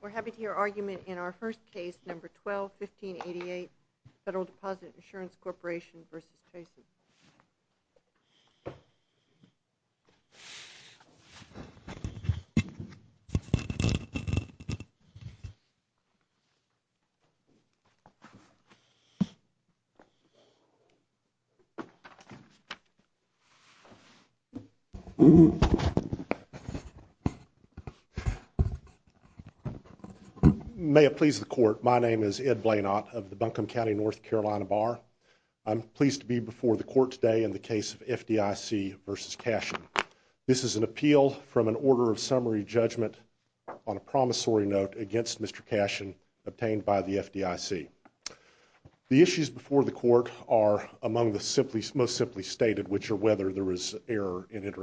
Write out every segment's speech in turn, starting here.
We're happy to hear argument in our first case, No. 12-1588, Federal Deposit Insurance May it please the court, my name is Ed Blanot of the Buncombe County North Carolina Bar. I'm pleased to be before the court today in the case of FDIC v. Cashion. This is an appeal from an order of summary judgment on a promissory note against Mr. Cashion obtained by the FDIC. The issues before the court are among the most simply stated, which are whether there was error, that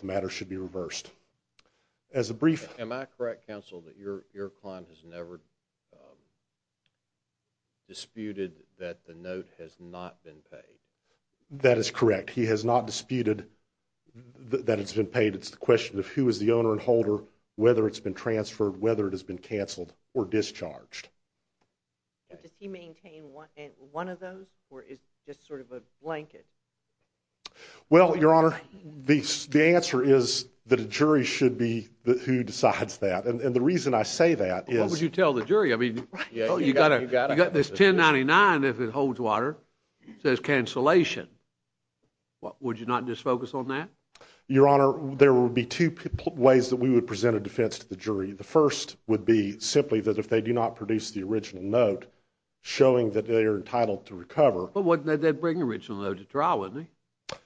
the matter should be reversed. As a brief- Am I correct, counsel, that your client has never disputed that the note has not been paid? That is correct. He has not disputed that it's been paid. It's the question of who is the owner and holder, whether it's been transferred, whether it has been canceled or discharged. Does he maintain one of those, or is it just sort of a blanket? Well, Your Honor, the answer is that a jury should be who decides that. And the reason I say that is- What would you tell the jury? I mean, you've got this 1099 if it holds water. It says cancellation. Would you not just focus on that? Your Honor, there would be two ways that we would present a defense to the jury. The first would be simply that if they do not produce the original note showing that they are entitled to recover- Well, wouldn't that bring original note to trial, wouldn't it?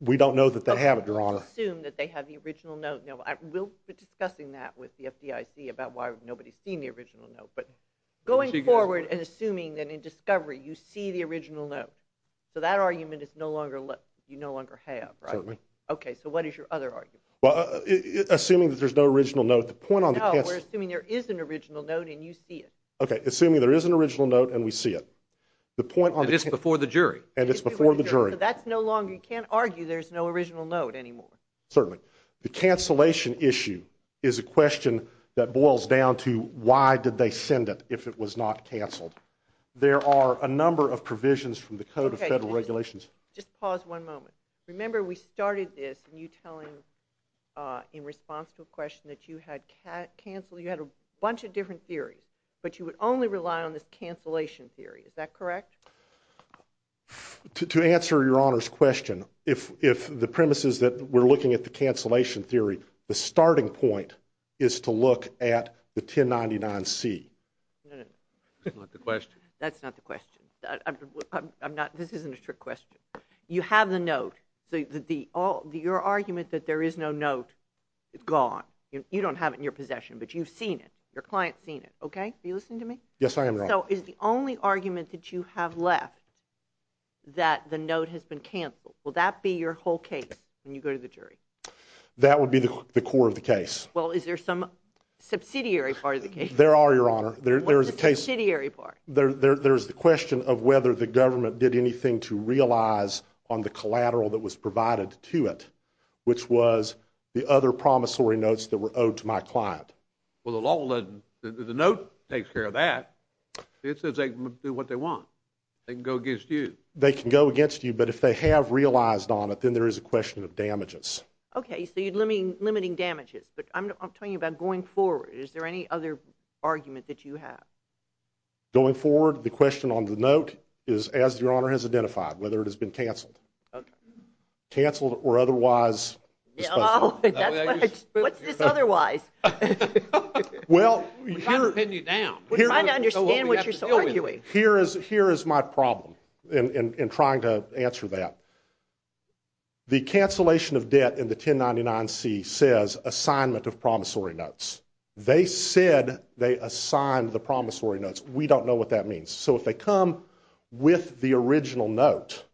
We don't know that they have it, Your Honor. Okay. Let's just assume that they have the original note. Now, we'll be discussing that with the FDIC about why nobody's seen the original note. But going forward and assuming that in discovery, you see the original note, so that argument is no longer- you no longer have, right? Certainly. Okay. So what is your other argument? Well, assuming that there's no original note, the point on the case- No, we're assuming there is an original note and you see it. Okay. Assuming there is an original note and we see it. The point on- And it's before the jury. And it's before the jury. So that's no longer- you can't argue there's no original note anymore. Certainly. The cancellation issue is a question that boils down to why did they send it if it was not canceled. There are a number of provisions from the Code of Federal Regulations- Just pause one moment. Remember, we started this and you tell him in response to a question that you had canceled- you had a bunch of different theories, but you would only rely on this cancellation theory. Is that correct? To answer your Honor's question, if the premise is that we're looking at the cancellation theory, the starting point is to look at the 1099C. No, no, no. That's not the question. That's not the question. I'm not- this isn't a trick question. You have the note, so your argument that there is no note is gone. You don't have it in your possession, but you've seen it. Your client's seen it, okay? Are you listening to me? Yes, I am, Your Honor. So is the only argument that you have left that the note has been canceled, will that be your whole case when you go to the jury? That would be the core of the case. Well, is there some subsidiary part of the case? There are, Your Honor. There's a case- What's the subsidiary part? There's the question of whether the government did anything to realize on the collateral that was provided to it, which was the other promissory notes that were owed to my client. Well, the note takes care of that. It says they can do what they want. They can go against you. They can go against you, but if they have realized on it, then there is a question of damages. Okay, so you're limiting damages, but I'm talking about going forward. Is there any other argument that you have? Going forward, the question on the note is, as Your Honor has identified, whether it has been canceled. Okay. Canceled or otherwise disposed of. What's this otherwise? Well, here- We're trying to pin you down. We're trying to understand what you're arguing. Here is my problem in trying to answer that. The cancellation of debt in the 1099-C says assignment of promissory notes. They said they assigned the promissory notes. We don't know what that means. So if they come with the original note-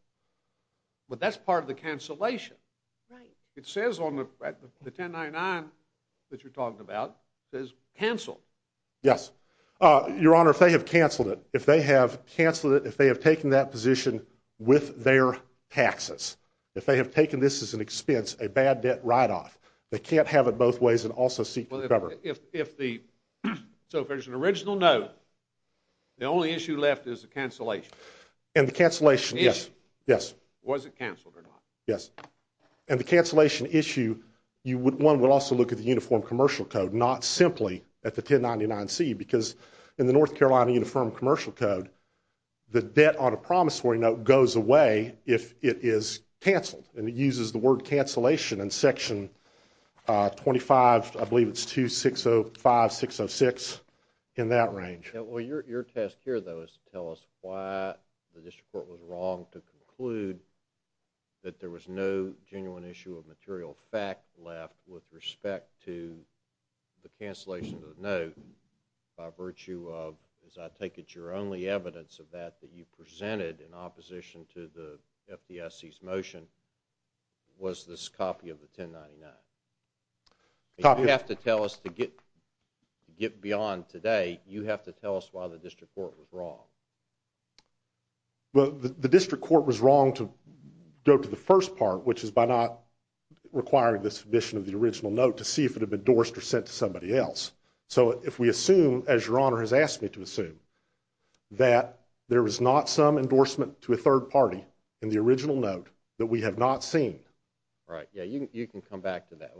But that's part of the cancellation. Right. It says on the 1099 that you're talking about, it says canceled. Yes. Your Honor, if they have canceled it, if they have canceled it, if they have taken that position with their taxes, if they have taken this as an expense, a bad debt write-off, they can't have it both ways and also seek to recover. So if there's an original note, the only issue left is the cancellation. And the cancellation, yes. Was it canceled or not? Yes. And the cancellation issue, one would also look at the Uniform Commercial Code, not simply at the 1099-C because in the North Carolina Uniform Commercial Code, the debt on a promissory note goes away if it is canceled. And it uses the word cancellation in Section 25, I believe it's 2605-606, in that range. Well, your task here, though, is to tell us why the District Court was wrong to conclude that there was no genuine issue of material fact left with respect to the cancellation of the note by virtue of, as I take it, your only evidence of that that you presented in opposition to the FDIC's motion was this copy of the 1099. Copy of- You have to tell us why the District Court was wrong. Well, the District Court was wrong to go to the first part, which is by not requiring the submission of the original note to see if it had been endorsed or sent to somebody else. So if we assume, as your Honor has asked me to assume, that there was not some endorsement to a third party in the original note that we have not seen- Right. Yeah, you can come back to that.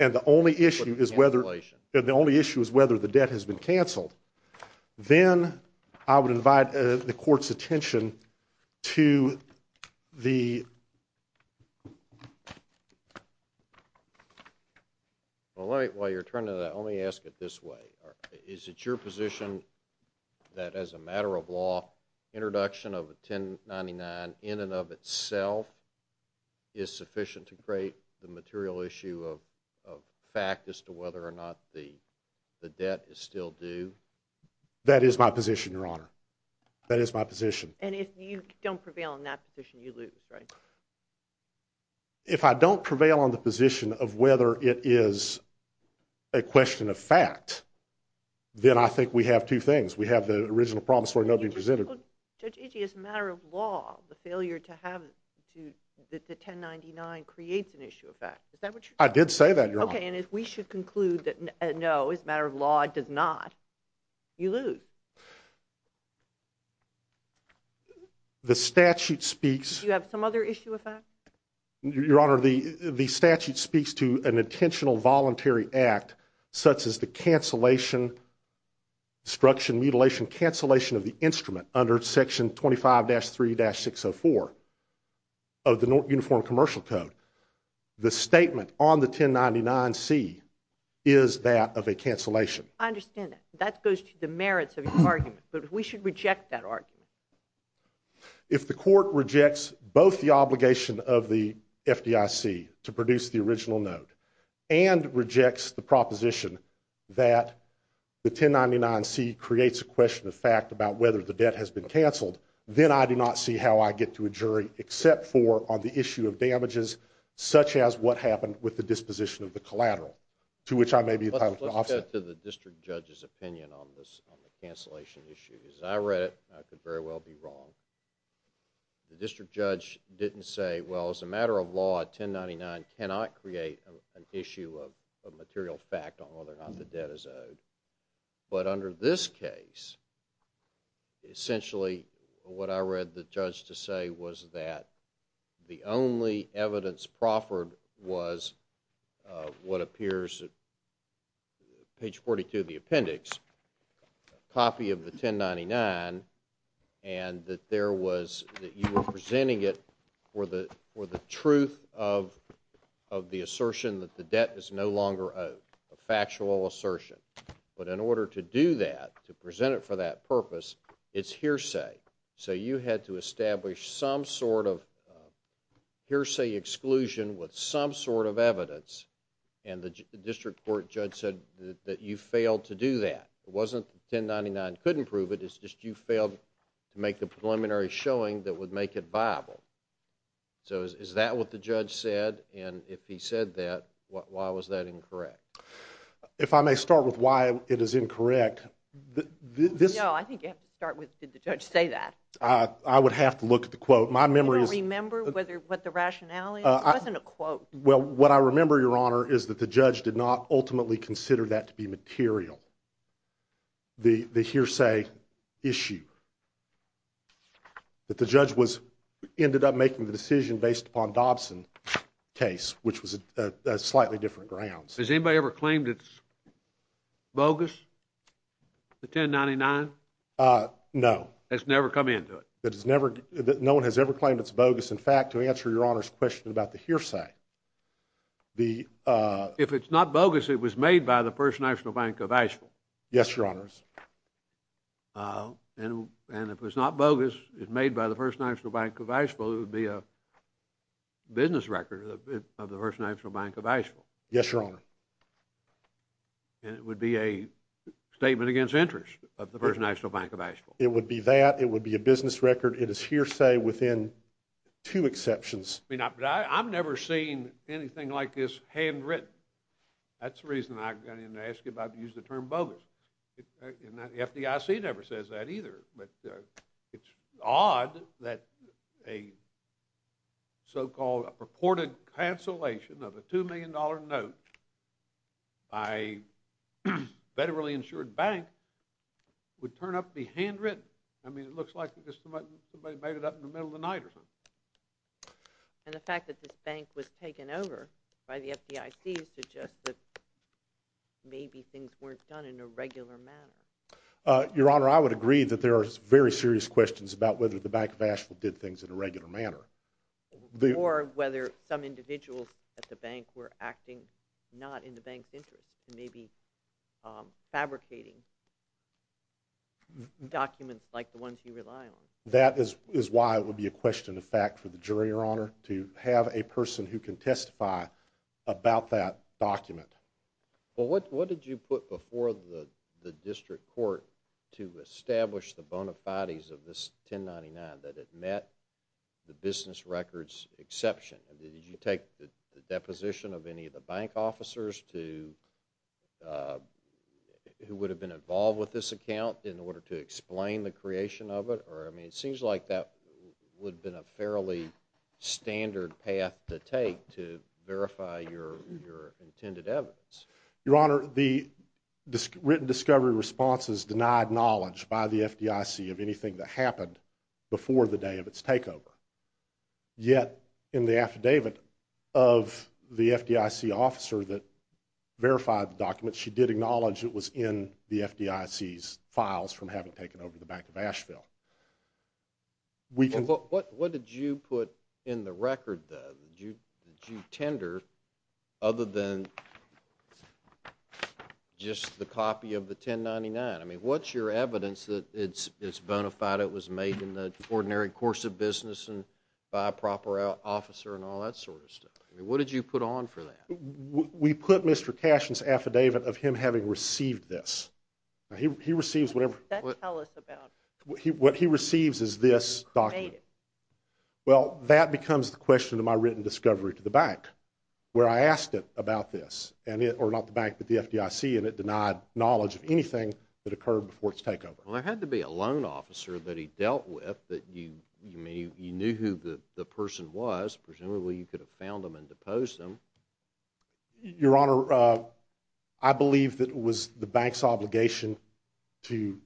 And the only issue is whether the debt has been canceled, then I would invite the Court's attention to the- Well, while you're turning that, let me ask it this way. Is it your position that as a matter of law, introduction of a 1099 in and of itself is sufficient to create the material issue of fact as to whether or not the debt is still due? That is my position, your Honor. That is my position. And if you don't prevail on that position, you lose, right? If I don't prevail on the position of whether it is a question of fact, then I think we have two things. We have the original promissory note being presented- Judge Itchie, as a matter of law, the failure to have the 1099 creates an issue of fact. Is that what you're saying? I did say that, your Honor. Okay, and if we should conclude that no, as a matter of law, it does not, you lose. The statute speaks- Do you have some other issue of fact? Your Honor, the statute speaks to an intentional voluntary act such as the cancellation, destruction, mutilation, cancellation of the instrument under section 25-3-604 of the Uniform Commercial Code. The statement on the 1099C is that of a cancellation. I understand that. That goes to the merits of your argument, but we should reject that argument. If the court rejects both the obligation of the FDIC to produce the original note and it rejects the proposition that the 1099C creates a question of fact about whether the debt has been canceled, then I do not see how I get to a jury except for on the issue of damages such as what happened with the disposition of the collateral, to which I may be entitled to offset. Let's go to the district judge's opinion on this, on the cancellation issue. As I read it, I could very well be wrong. The district judge didn't say, well, as a matter of law, 1099 cannot create an issue of material fact on whether or not the debt is owed. But under this case, essentially what I read the judge to say was that the only evidence proffered was what appears at page 42 of the appendix, a copy of the 1099, and that you were presenting it for the truth of the assertion that the debt is no longer owed, a factual assertion. But in order to do that, to present it for that purpose, it's hearsay. So you had to establish some sort of hearsay exclusion with some sort of evidence, and the district court judge said that you failed to do that. It wasn't that 1099 couldn't prove it, it's just you failed to make the preliminary showing that would make it viable. So is that what the judge said? And if he said that, why was that incorrect? If I may start with why it is incorrect, this No, I think you have to start with, did the judge say that? I would have to look at the quote. My memory is Do you remember what the rationale is? It wasn't a quote. Well, what I remember, Your Honor, is that the judge did not ultimately consider that to be material, the hearsay issue. That the judge ended up making the decision based upon Dobson's case, which was on slightly different grounds. Has anybody ever claimed it's bogus, the 1099? No. Has never come into it? No one has ever claimed it's bogus. In fact, to answer Your Honor's question about the hearsay, The If it's not bogus, it was made by the First National Bank of Asheville. Yes, Your Honor. And if it's not bogus, it's made by the First National Bank of Asheville, it would be a business record of the First National Bank of Asheville. Yes, Your Honor. And it would be a statement against interest of the First National Bank of Asheville. It would be that. It would be a business record. It is hearsay within two exceptions. I mean, I've never seen anything like this handwritten. That's the reason I'm going to ask you about using the term bogus. And the FDIC never says that either. But it's odd that a so-called purported cancellation of a $2 million note by a federally insured bank would turn up to be handwritten. I mean, it looks like somebody made it up in the middle of the night or something. And the fact that this bank was taken over by the FDIC suggests that maybe things weren't done in a regular manner. Your Honor, I would agree that there are very serious questions about whether the Bank of Asheville did things in a regular manner. Or whether some individuals at the bank were acting not in the bank's interest and maybe fabricating documents like the ones you rely on. That is why it would be a question of fact for the jury, Your Honor, to have a person who can testify about that document. Well, what did you put before the district court to establish the bona fides of this 1099 that it met the business records exception? Did you take the deposition of any of the bank officers who would have been involved with this account in order to explain the creation of it? Or, I mean, it seems like that would have been a fairly standard path to take to verify your intended evidence. Your Honor, the written discovery response is denied knowledge by the FDIC of anything that happened before the day of its takeover. Yet, in the affidavit of the FDIC officer that verified the document, she did acknowledge it was in the FDIC's files from having taken over the Bank of Asheville. What did you put in the record, though? Did you tender other than just the copy of the 1099? I mean, what's your evidence that it's bona fide it was made in the ordinary course of business and by a proper officer and all that sort of stuff? I mean, what did you put on for that? We put Mr. Cashin's affidavit of him having received this. He receives whatever... Then tell us about it. What he receives is this document. Well, that becomes the question of my written discovery to the bank, where I asked it about this, or not the bank, but the FDIC, and it denied knowledge of anything that occurred before its takeover. Well, there had to be a loan officer that he dealt with that you knew who the person was. Presumably you could have found them and deposed them. Your Honor, I believe that it was the bank's obligation to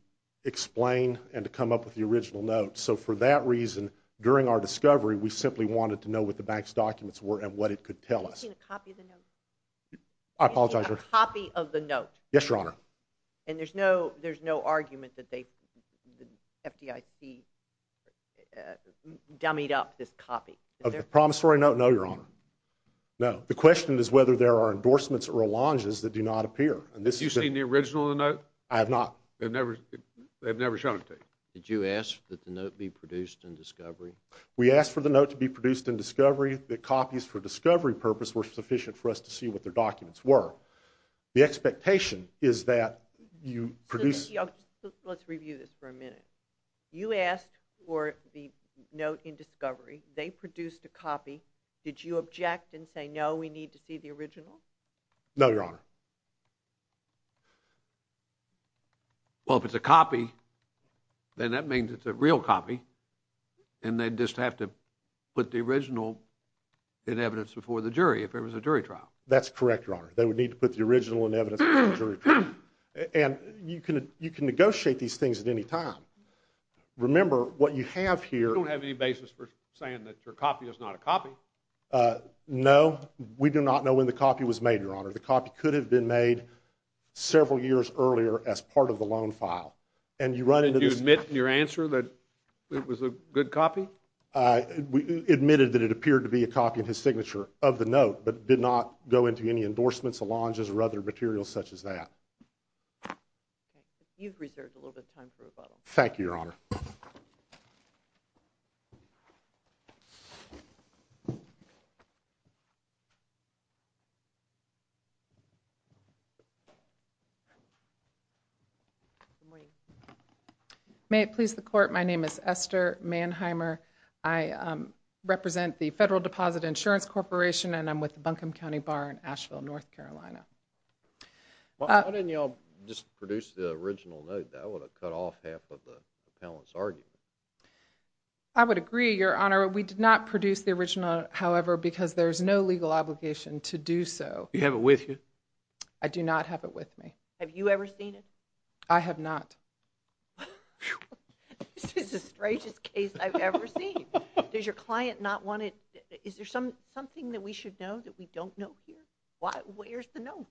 explain and to come up with the original note. So for that reason, during our discovery, we simply wanted to know what the bank's documents were and what it could tell us. Have you seen a copy of the note? I apologize, Your Honor. A copy of the note? Yes, Your Honor. And there's no argument that the FDIC dummied up this copy? Of the promissory note? No, Your Honor. No. The question is whether there are endorsements or allonges that do not appear. Have you seen the original note? I have not. They've never shown it to you? Did you ask that the note be produced in discovery? We asked for the note to be produced in discovery. The copies for discovery purpose were sufficient for us to see what their documents were. The expectation is that you produce... Let's review this for a minute. You asked for the note in discovery. They produced a copy. Did you object and say, no, we need to see the original? No, Your Honor. Well, if it's a copy, then that means it's a real copy, and they'd just have to put the original in evidence before the jury if it was a jury trial. That's correct, Your Honor. They would need to put the original in evidence before the jury trial. And you can negotiate these things at any time. Remember, what you have here... We don't have any basis for saying that your copy is not a copy. No. We do not know when the copy was made, Your Honor. The copy could have been made several years earlier as part of the loan file. And you run into this... Did you admit in your answer that it was a good copy? We admitted that it appeared to be a copy of his signature of the note but did not go into any endorsements, allonges, or other materials such as that. You've reserved a little bit of time for rebuttal. Thank you, Your Honor. May it please the Court, my name is Esther Mannheimer. I represent the Federal Deposit Insurance Corporation, and I'm with the Buncombe County Bar in Asheville, North Carolina. Why didn't you all just produce the original note? That would have cut off half of the panelist's argument. I would agree, Your Honor. We did not produce the original, however, because there is no legal obligation to do so. Do you have it with you? I do not have it with me. Have you ever seen it? I have not. This is the strangest case I've ever seen. Does your client not want it? Is there something that we should know that we don't know here? Where's the note?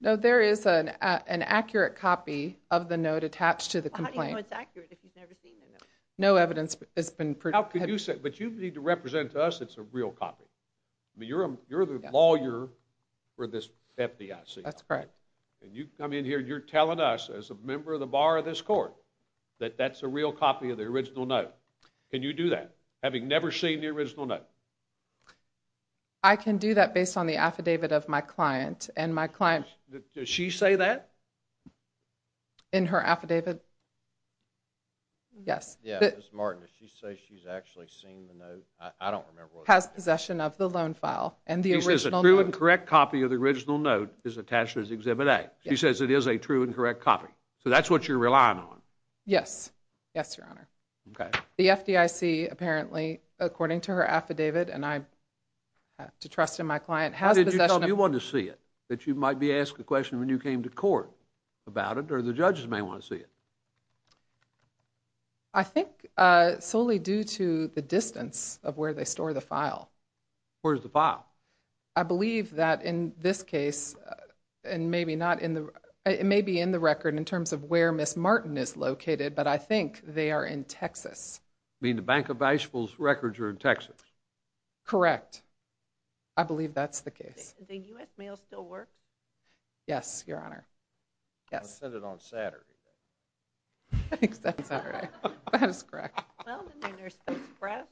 No, there is an accurate copy of the note attached to the complaint. How do you know it's accurate if you've never seen the note? No evidence has been produced. But you need to represent to us it's a real copy. You're the lawyer for this FDIC. That's correct. You come in here and you're telling us, as a member of the Bar of this Court, that that's a real copy of the original note. Can you do that, having never seen the original note? I can do that based on the affidavit of my client, and my client... Does she say that? In her affidavit? Yes. Ms. Martin, does she say she's actually seen the note? I don't remember what it says. Has possession of the loan file and the original note. She says a true and correct copy of the original note is attached to Exhibit A. She says it is a true and correct copy. So that's what you're relying on. Yes. Yes, Your Honor. Okay. The FDIC, apparently, according to her affidavit, and I have to trust in my client, has possession of... that you might be asked a question when you came to court about it, or the judges may want to see it. I think solely due to the distance of where they store the file. Where's the file? I believe that in this case, and maybe not in the... It may be in the record in terms of where Ms. Martin is located, but I think they are in Texas. You mean the Bank of Asheville's records are in Texas? Correct. I believe that's the case. The U.S. Mail still works? Yes, Your Honor. I sent it on Saturday, though. You sent it on Saturday. That is correct. Well, didn't your nurse get surprised?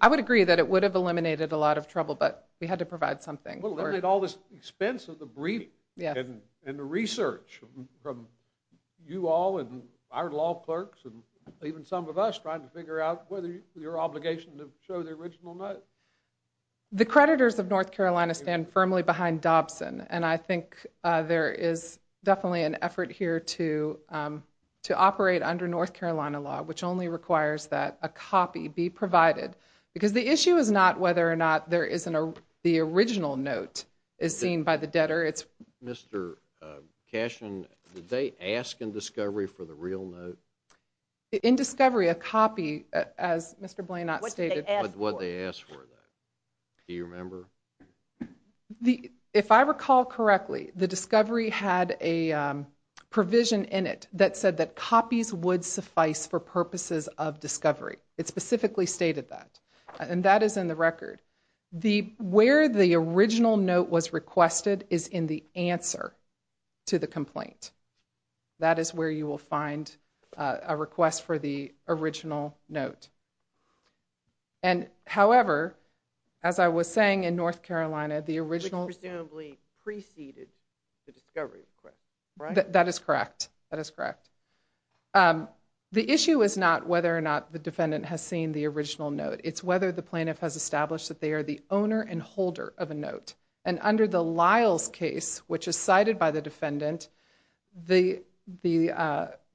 I would agree that it would have eliminated a lot of trouble, but we had to provide something. Well, they made all this expense of the briefing and the research from you all and our law clerks and even some of us trying to figure out whether your obligation to show the original note. The creditors of North Carolina stand firmly behind Dobson, and I think there is definitely an effort here to operate under North Carolina law, which only requires that a copy be provided, because the issue is not whether or not the original note is seen by the debtor. Mr. Cashin, did they ask in discovery for the real note? In discovery, a copy, as Mr. Blanot stated. What did they ask for? Do you remember? If I recall correctly, the discovery had a provision in it that said that copies would suffice for purposes of discovery. It specifically stated that, and that is in the record. Where the original note was requested is in the answer to the complaint. That is where you will find a request for the original note. However, as I was saying in North Carolina, the original... Presumably preceded the discovery request, right? That is correct. The issue is not whether or not the defendant has seen the original note. It's whether the plaintiff has established that they are the owner and holder of a note. Under the Lyles case, which is cited by the defendant, the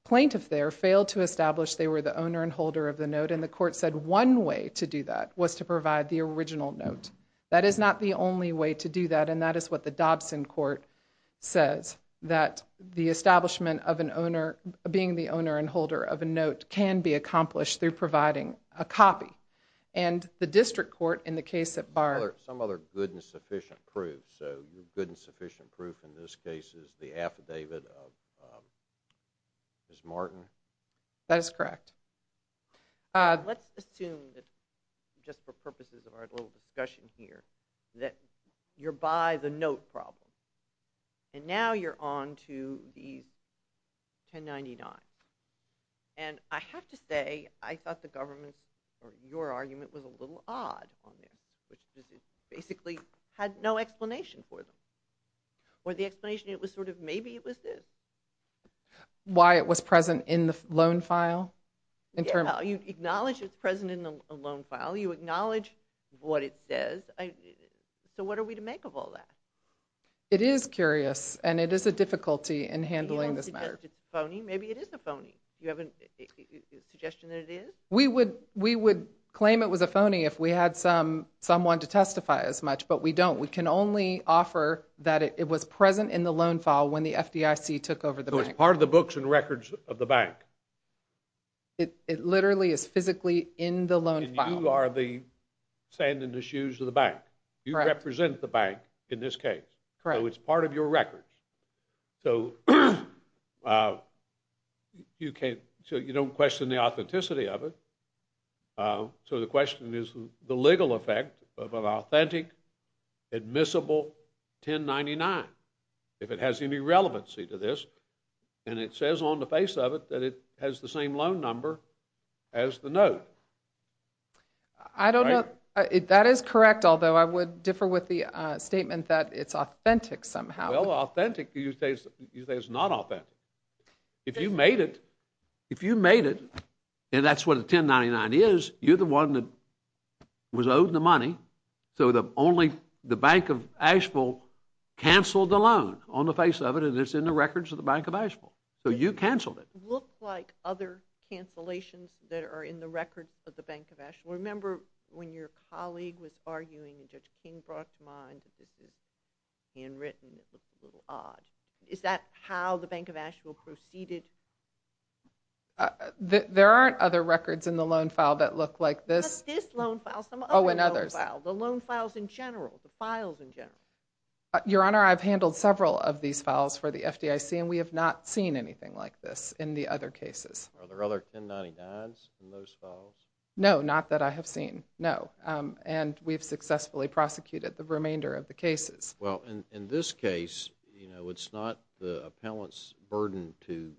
plaintiff there failed to establish they were the owner and holder of the note. The court said one way to do that was to provide the original note. That is not the only way to do that. That is what the Dobson court says, that the establishment of being the owner and holder of a note can be accomplished through providing a copy. The district court in the case at Bard... Some other good and sufficient proof. The good and sufficient proof in this case is the affidavit of Ms. Martin. That is correct. Let's assume that, just for purposes of our little discussion here, that you're by the note problem. Now you're on to the 1099. I have to say, I thought the government's, or your argument, was a little odd on this. It basically had no explanation for them. The explanation was maybe it was this. Why it was present in the loan file? You acknowledge it's present in the loan file. You acknowledge what it says. What are we to make of all that? It is curious, and it is a difficulty in handling this matter. It's a phony. Maybe it is a phony. Do you have a suggestion that it is? We would claim it was a phony if we had someone to testify as much, but we don't. We can only offer that it was present in the loan file when the FDIC took over the bank. So it's part of the books and records of the bank. It literally is physically in the loan file. And you are the sand in the shoes of the bank. You represent the bank in this case. Correct. So it's part of your records. So you don't question the authenticity of it. So the question is the legal effect of an authentic, admissible 1099, if it has any relevancy to this. And it says on the face of it that it has the same loan number as the note. I don't know. That is correct, although I would differ with the statement that it's authentic somehow. Well, authentic you say is not authentic. If you made it, if you made it, and that's what a 1099 is, you're the one that was owed the money, so only the Bank of Asheville canceled the loan on the face of it and it's in the records of the Bank of Asheville. So you canceled it. It looks like other cancellations that are in the records of the Bank of Asheville. Remember when your colleague was arguing and Judge King brought to mind that this is handwritten, it looked a little odd. Is that how the Bank of Asheville proceeded? There aren't other records in the loan file that look like this. Just this loan file. Some other loan files. The loan files in general, the files in general. Your Honor, I've handled several of these files for the FDIC and we have not seen anything like this in the other cases. Are there other 1099s in those files? No, not that I have seen, no. And we've successfully prosecuted the remainder of the cases. Well, in this case, it's not the appellant's burden to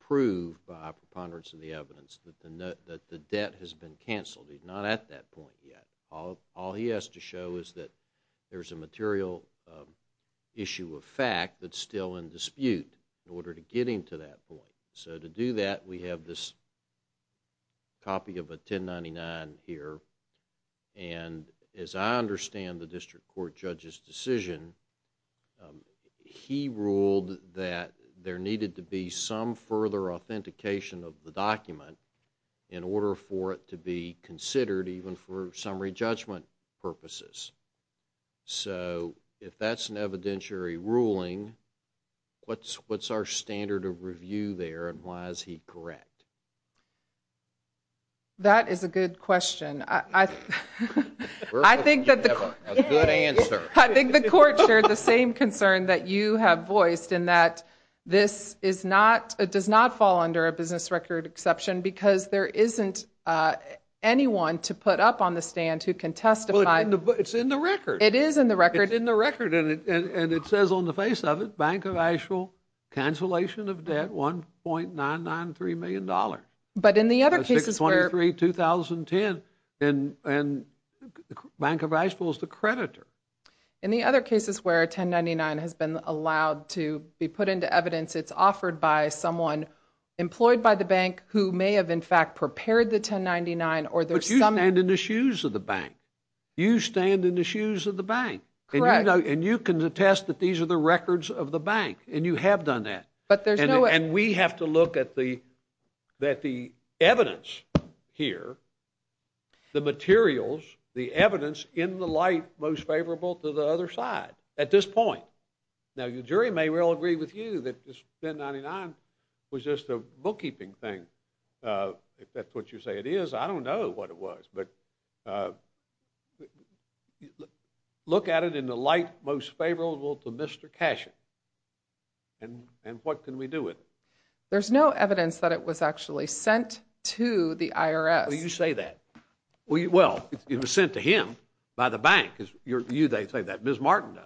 prove by preponderance of the evidence that the debt has been canceled. He's not at that point yet. All he has to show is that there's a material issue of fact that's still in dispute in order to get him to that point. So to do that, we have this copy of a 1099 here and as I understand the district court judge's decision, he ruled that there needed to be some further authentication of the document in order for it to be considered even for summary judgment purposes. So if that's an evidentiary ruling, what's our standard of review there and why is he correct? That is a good question. I think that the court shared the same concern that you have voiced in that this does not fall under a business record exception because there isn't anyone to put up on the stand who can testify. But it's in the record. It is in the record. It's in the record and it says on the face of it, cancellation of debt, $1.993 million. But in the other cases where... 6-23-2010 and Bank of Asheville is the creditor. In the other cases where a 1099 has been allowed to be put into evidence, it's offered by someone employed by the bank who may have in fact prepared the 1099 or there's some... But you stand in the shoes of the bank. You stand in the shoes of the bank. Correct. And you can attest that these are the records of the bank and you have done that. But there's no... And we have to look at the evidence here, the materials, the evidence in the light most favorable to the other side at this point. Now your jury may well agree with you that this 1099 was just a bookkeeping thing. If that's what you say it is, I don't know what it was. But look at it in the light most favorable to Mr. Cashin and what can we do with it? There's no evidence that it was actually sent to the IRS. You say that. Well, it was sent to him by the bank. You may say that. Ms. Martin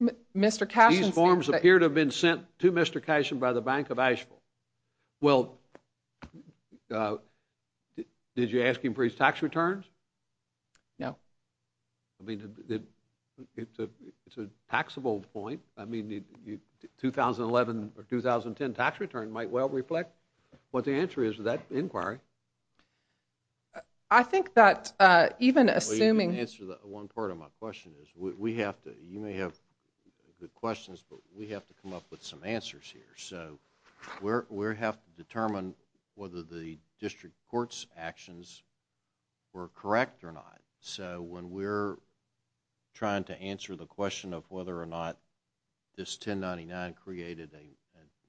does. Mr. Cashin... These forms appear to have been sent to Mr. Cashin by the Bank of Asheville. Well, did you ask him for his tax returns? No. I mean, it's a taxable point. I mean, 2011 or 2010 tax return might well reflect what the answer is to that inquiry. I think that even assuming... Well, you didn't answer one part of my question. You may have good questions, but we have to come up with some answers here. So we have to determine whether the district court's actions were correct or not. So when we're trying to answer the question of whether or not this 1099 created a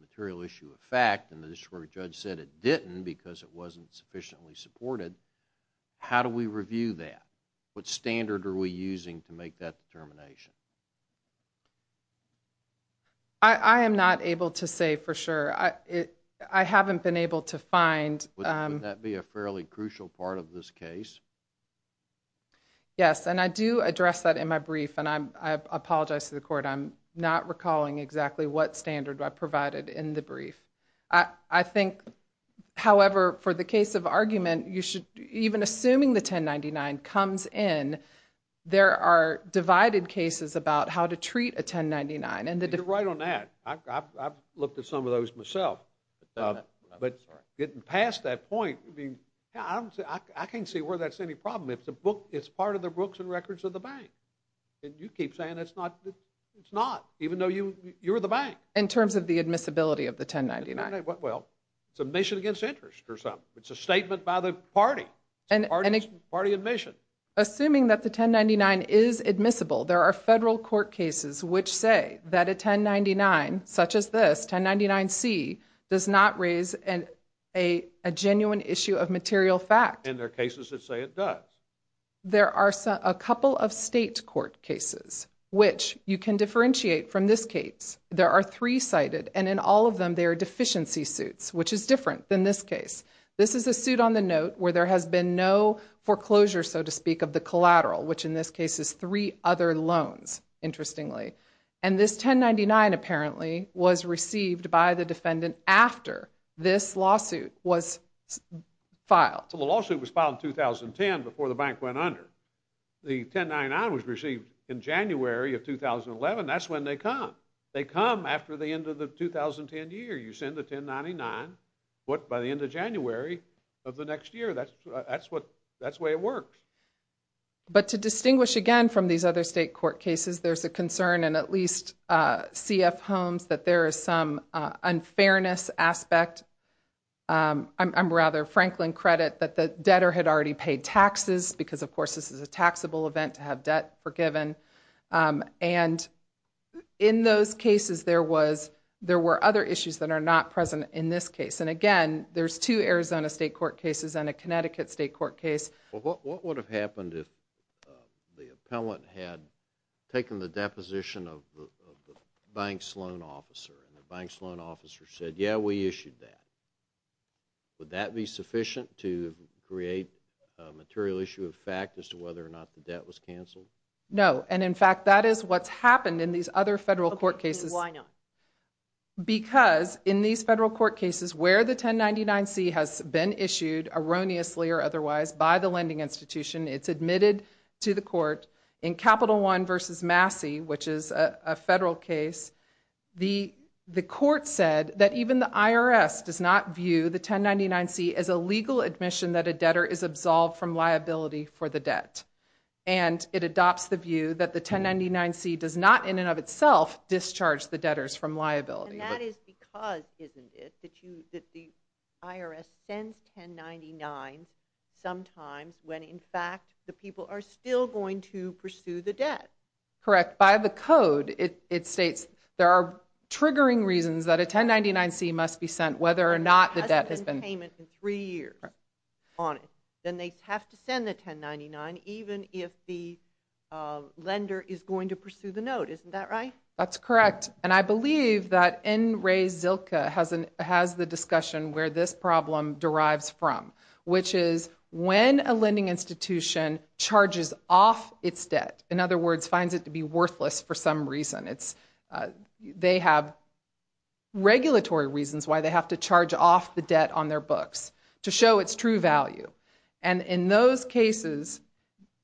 material issue of fact and the district court judge said it didn't because it wasn't sufficiently supported, how do we review that? What standard are we using to make that determination? I am not able to say for sure. I haven't been able to find... Would that be a fairly crucial part of this case? Yes, and I do address that in my brief, and I apologize to the court. I'm not recalling exactly what standard I provided in the brief. I think, however, for the case of argument, even assuming the 1099 comes in, there are divided cases about how to treat a 1099. You're right on that. I've looked at some of those myself. But getting past that point, I can't see where that's any problem. It's part of the books and records of the bank, and you keep saying it's not, even though you're the bank. In terms of the admissibility of the 1099. Well, it's a mission against interest or something. It's a statement by the party. It's a party admission. Assuming that the 1099 is admissible, there are federal court cases which say that a 1099, such as this 1099-C, does not raise a genuine issue of material fact. And there are cases that say it does. There are a couple of state court cases, which you can differentiate from this case. There are three cited, and in all of them, there are deficiency suits, which is different than this case. This is a suit on the note where there has been no foreclosure, so to speak, of the collateral, which in this case is three other loans, interestingly. And this 1099 apparently was received by the defendant after this lawsuit was filed. The lawsuit was filed in 2010 before the bank went under. The 1099 was received in January of 2011. That's when they come. They come after the end of the 2010 year. You send the 1099, but by the end of January of the next year. That's the way it works. But to distinguish again from these other state court cases, there's a concern in at least C.F. Holmes that there is some unfairness aspect. I'm rather Franklin credit that the debtor had already paid taxes because, of course, this is a taxable event to have debt forgiven. And in those cases, there were other issues that are not present in this case. And again, there's two Arizona state court cases and a Connecticut state court case. Well, what would have happened if the appellant had taken the deposition of the bank's loan officer and the bank's loan officer said, yeah, we issued that? Would that be sufficient to create a material issue of fact as to whether or not the debt was canceled? No. And in fact, that is what's happened in these other federal court cases. Why not? Because in these federal court cases where the 1099-C has been issued, erroneously or otherwise, by the lending institution, it's admitted to the court in Capital One versus Massey, which is a federal case, the court said that even the IRS does not view the 1099-C as a legal admission that a debtor is absolved from liability for the debt. And it adopts the view that the 1099-C does not in and of itself discharge the debtors from liability. And that is because, isn't it, that the IRS sends 1099 sometimes when in fact the people are still going to pursue the debt. Correct. By the code, it states there are triggering reasons that a 1099-C must be sent whether or not the debt has been... There hasn't been payment in three years on it. Then they have to send the 1099 even if the lender is going to pursue the note. Isn't that right? That's correct. And I believe that N. Ray Zilka has the discussion where this problem derives from, which is when a lending institution charges off its debt, in other words, finds it to be worthless for some reason, they have regulatory reasons why they have to charge off the debt on their books to show its true value. And in those cases,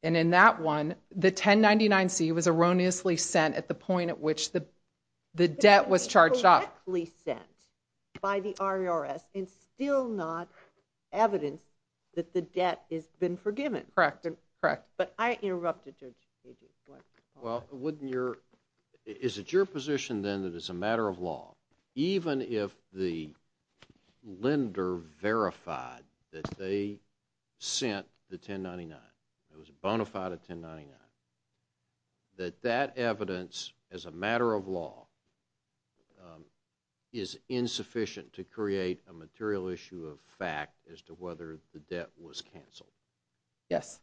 and in that one, the 1099-C was erroneously sent at the point at which the debt was charged off. It was correctly sent by the IRS and still not evidence that the debt has been forgiven. Correct. But I interrupted you. Well, is it your position then that it's a matter of law, even if the lender verified that they sent the 1099, it was a bona fide 1099, that that evidence as a matter of law is insufficient to create a material issue of fact as to whether the debt was canceled? Yes.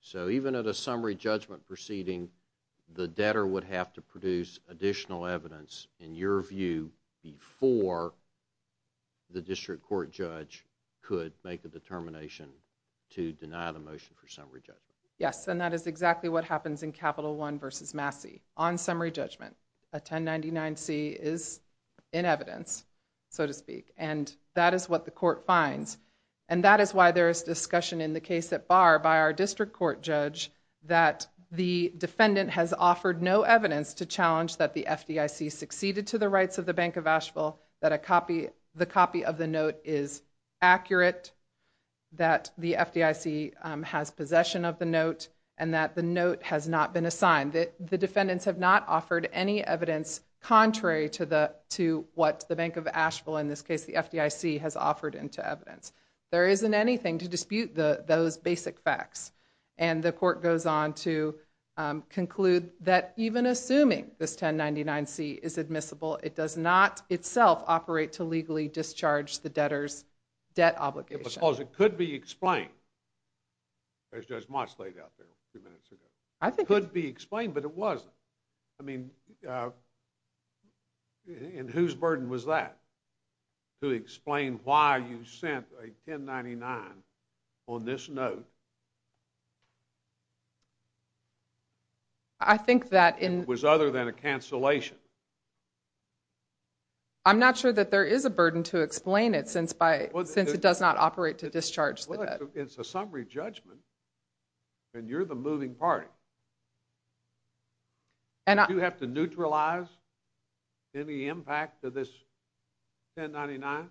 So even at a summary judgment proceeding, the debtor would have to produce additional evidence, in your view, before the district court judge could make a determination to deny the motion for summary judgment? Yes, and that is exactly what happens in Capital One v. Massey. On summary judgment, a 1099-C is in evidence, so to speak, and that is what the court finds. And that is why there is discussion in the case at bar by our district court judge that the defendant has offered no evidence to challenge that the FDIC succeeded to the rights of the Bank of Asheville, that the copy of the note is accurate, that the FDIC has possession of the note, and that the note has not been assigned. The defendants have not offered any evidence contrary to what the Bank of Asheville, in this case the FDIC, has offered into evidence. There isn't anything to dispute those basic facts, and the court goes on to conclude that even assuming this 1099-C is admissible, it does not itself operate to legally discharge the debtor's debt obligation. Because it could be explained, as Judge Moss laid out there a few minutes ago. It could be explained, but it wasn't. I mean, and whose burden was that to explain why you sent a 1099 on this note? I think that in... It was other than a cancellation. I'm not sure that there is a burden to explain it since it does not operate to discharge the debt. It's a summary judgment, and you're the moving party. Do you have to neutralize any impact to this 1099?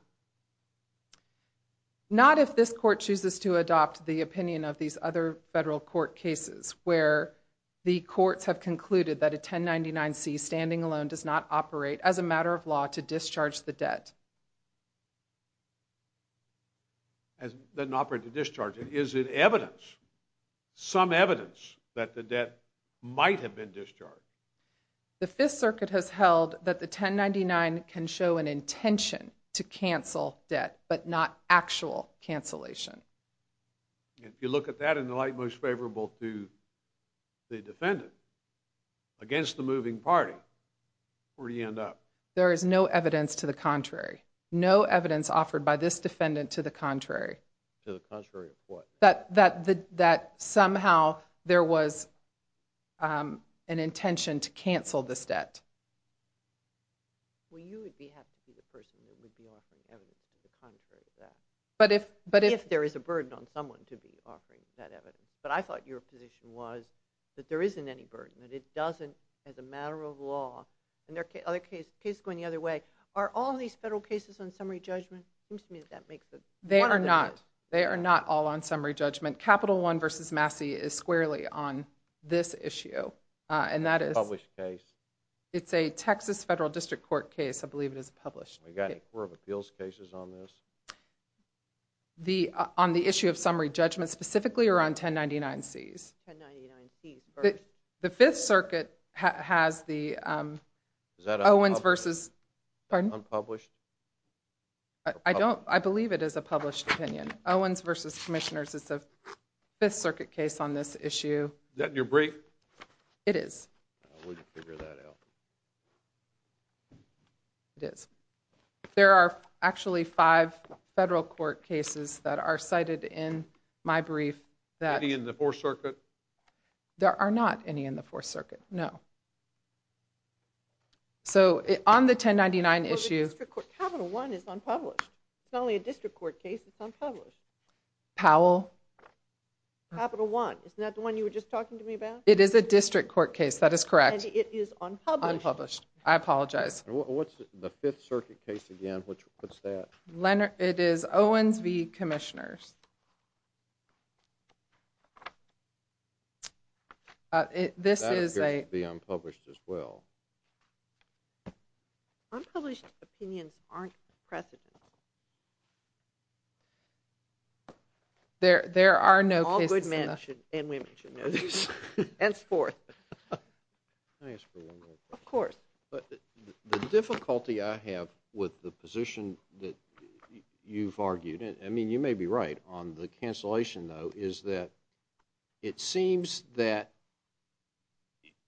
Not if this court chooses to adopt the opinion of these other federal court cases where the courts have concluded that a 1099-C, standing alone, does not operate as a matter of law to discharge the debt. It doesn't operate to discharge it. Is it evidence, some evidence, that the debt might have been discharged? The Fifth Circuit has held that the 1099 can show an intention to cancel debt, but not actual cancellation. If you look at that in the light most favorable to the defendant, against the moving party, where do you end up? There is no evidence to the contrary. No evidence offered by this defendant to the contrary. To the contrary of what? That somehow there was an intention to cancel this debt. Well, you would be happy to be the person who would be offering evidence to the contrary of that. But if... If there is a burden on someone to be offering that evidence. But I thought your position was that there isn't any burden, that it doesn't, as a matter of law, and there are other cases going the other way, are all these federal cases on summary judgment? They are not. They are not all on summary judgment. Capital One v. Massey is squarely on this issue. And that is... It's a published case. It's a Texas Federal District Court case. I believe it is a published case. We got any court of appeals cases on this? On the issue of summary judgment, specifically around 1099Cs. 1099Cs. The Fifth Circuit has the Owens v. Unpublished? I don't... I believe it is a published opinion. Owens v. Commissioners is a Fifth Circuit case on this issue. Is that in your brief? It is. I wouldn't figure that out. It is. There are actually five federal court cases that are cited in my brief that... Any in the Fourth Circuit? There are not any in the Fourth Circuit. No. So on the 1099 issue... Capital One is unpublished. It's not only a District Court case. It's unpublished. Powell? Capital One. Isn't that the one you were just talking to me about? It is a District Court case. That is correct. And it is unpublished. Unpublished. I apologize. What's the Fifth Circuit case again? What's that? It is Owens v. Commissioners. This is a... That appears to be unpublished as well. Unpublished opinions aren't precedent. There are no cases... All good men and women should know this. Henceforth. Can I ask for one more question? Of course. The difficulty I have with the position that you've argued... I mean, you may be right on the cancellation, though, is that it seems that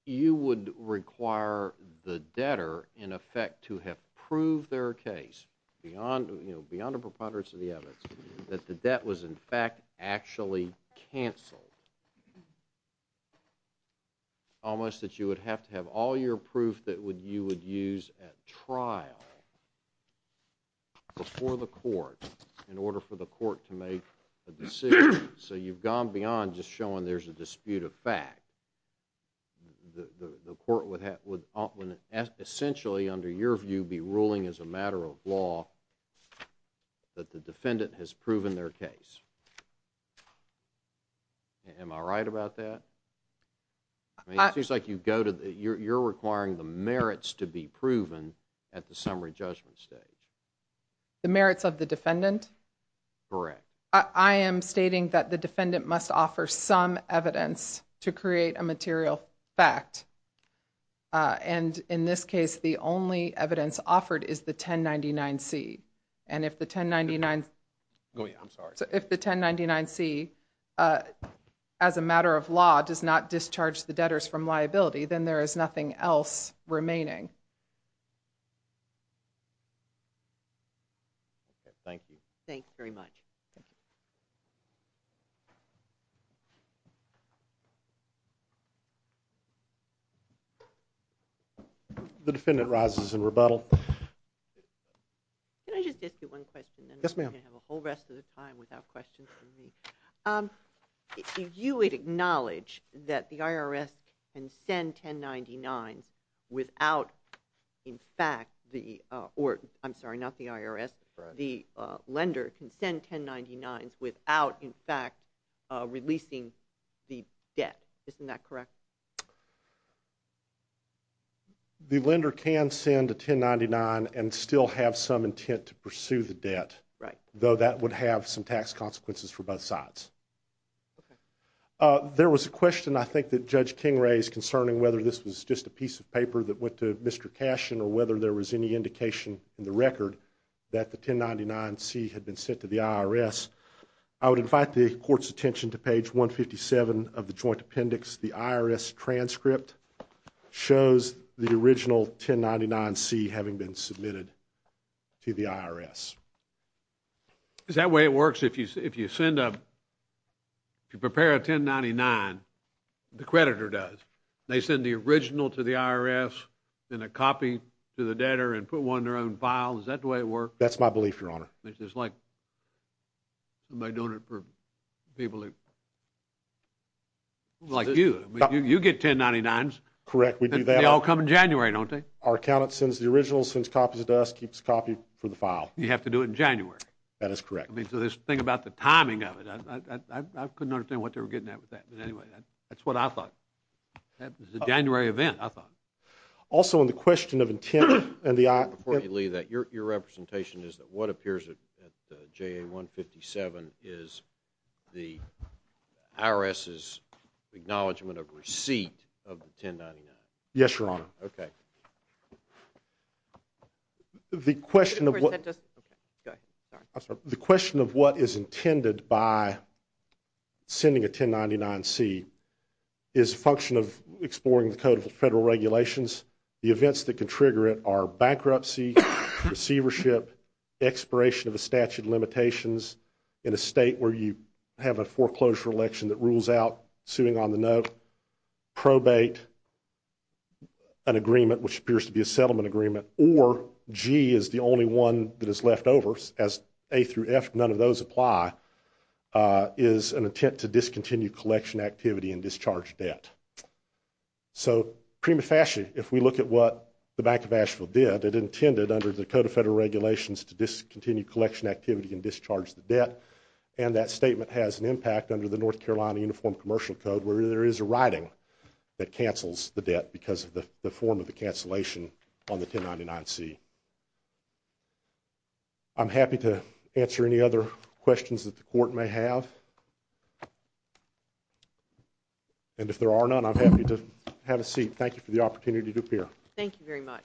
you would require the debtor, in effect, to have proved their case, beyond the preponderance of the evidence, that the debt was, in fact, actually canceled. Almost that you would have to have all your proof that you would use at trial before the court in order for the court to make a decision. So you've gone beyond just showing there's a dispute of fact. The court would essentially, under your view, be ruling as a matter of law that the defendant has proven their case. Am I right about that? It seems like you're requiring the merits to be proven at the summary judgment stage. The merits of the defendant? Correct. I am stating that the defendant must offer some evidence to create a material fact. And in this case, the only evidence offered is the 1099-C. And if the 1099... Oh, yeah, I'm sorry. If the 1099-C, as a matter of law, does not discharge the debtors from liability, then there is nothing else remaining. Thank you. Thanks very much. The defendant rises in rebuttal. Can I just ask you one question? Yes, ma'am. Then we can have a whole rest of the time without questions from me. If you would acknowledge that the IRS can send 1099s without, in fact, the... I'm sorry, not the IRS, the lender can send 1099s without, in fact, releasing the debt. Isn't that correct? The lender can send a 1099 and still have some intent to pursue the debt, though that would have some tax consequences for both sides. There was a question, I think, that Judge King raised concerning whether this was just a piece of paper that went to Mr. Cashin or whether there was any indication in the record that the 1099-C had been sent to the IRS. I would invite the Court's attention to page 157 of the Joint Appendix. The IRS transcript shows the original 1099-C having been submitted to the IRS. Is that the way it works? If you send a... If you prepare a 1099, the creditor does. They send the original to the IRS, then a copy to the debtor and put one in their own file. Is that the way it works? That's my belief, Your Honor. It's like somebody doing it for people like you. You get 1099s. Correct, we do that. They all come in January, don't they? Our accountant sends the original, sends copies to us, keeps a copy for the file. You have to do it in January. That is correct. I mean, so this thing about the timing of it, I couldn't understand what they were getting at with that. But anyway, that's what I thought. It's a January event, I thought. Also, in the question of intent and the... Before you leave that, your representation is that what appears at JA-157 is the IRS's acknowledgement of receipt of the 1099. Yes, Your Honor. Okay. The question of what... Go ahead. I'm sorry. The question of what is intended by sending a 1099-C is a function of exploring the Code of Federal Regulations. The events that can trigger it are bankruptcy, receivership, expiration of a statute of limitations in a state where you have a foreclosure election that rules out suing on the note, probate, an agreement, which appears to be a settlement agreement, or G is the only one that is left over, as A through F, none of those apply, is an attempt to discontinue collection activity and discharge debt. So, prima facie, if we look at what the Bank of Asheville did, it intended under the Code of Federal Regulations to discontinue collection activity and discharge the debt, and that statement has an impact under the North Carolina Uniform Commercial Code where there is a writing that cancels the debt because of the form of the cancellation on the 1099-C. I'm happy to answer any other questions that the Court may have. And if there are none, I'm happy to have a seat. Thank you for the opportunity to appear. Thank you very much.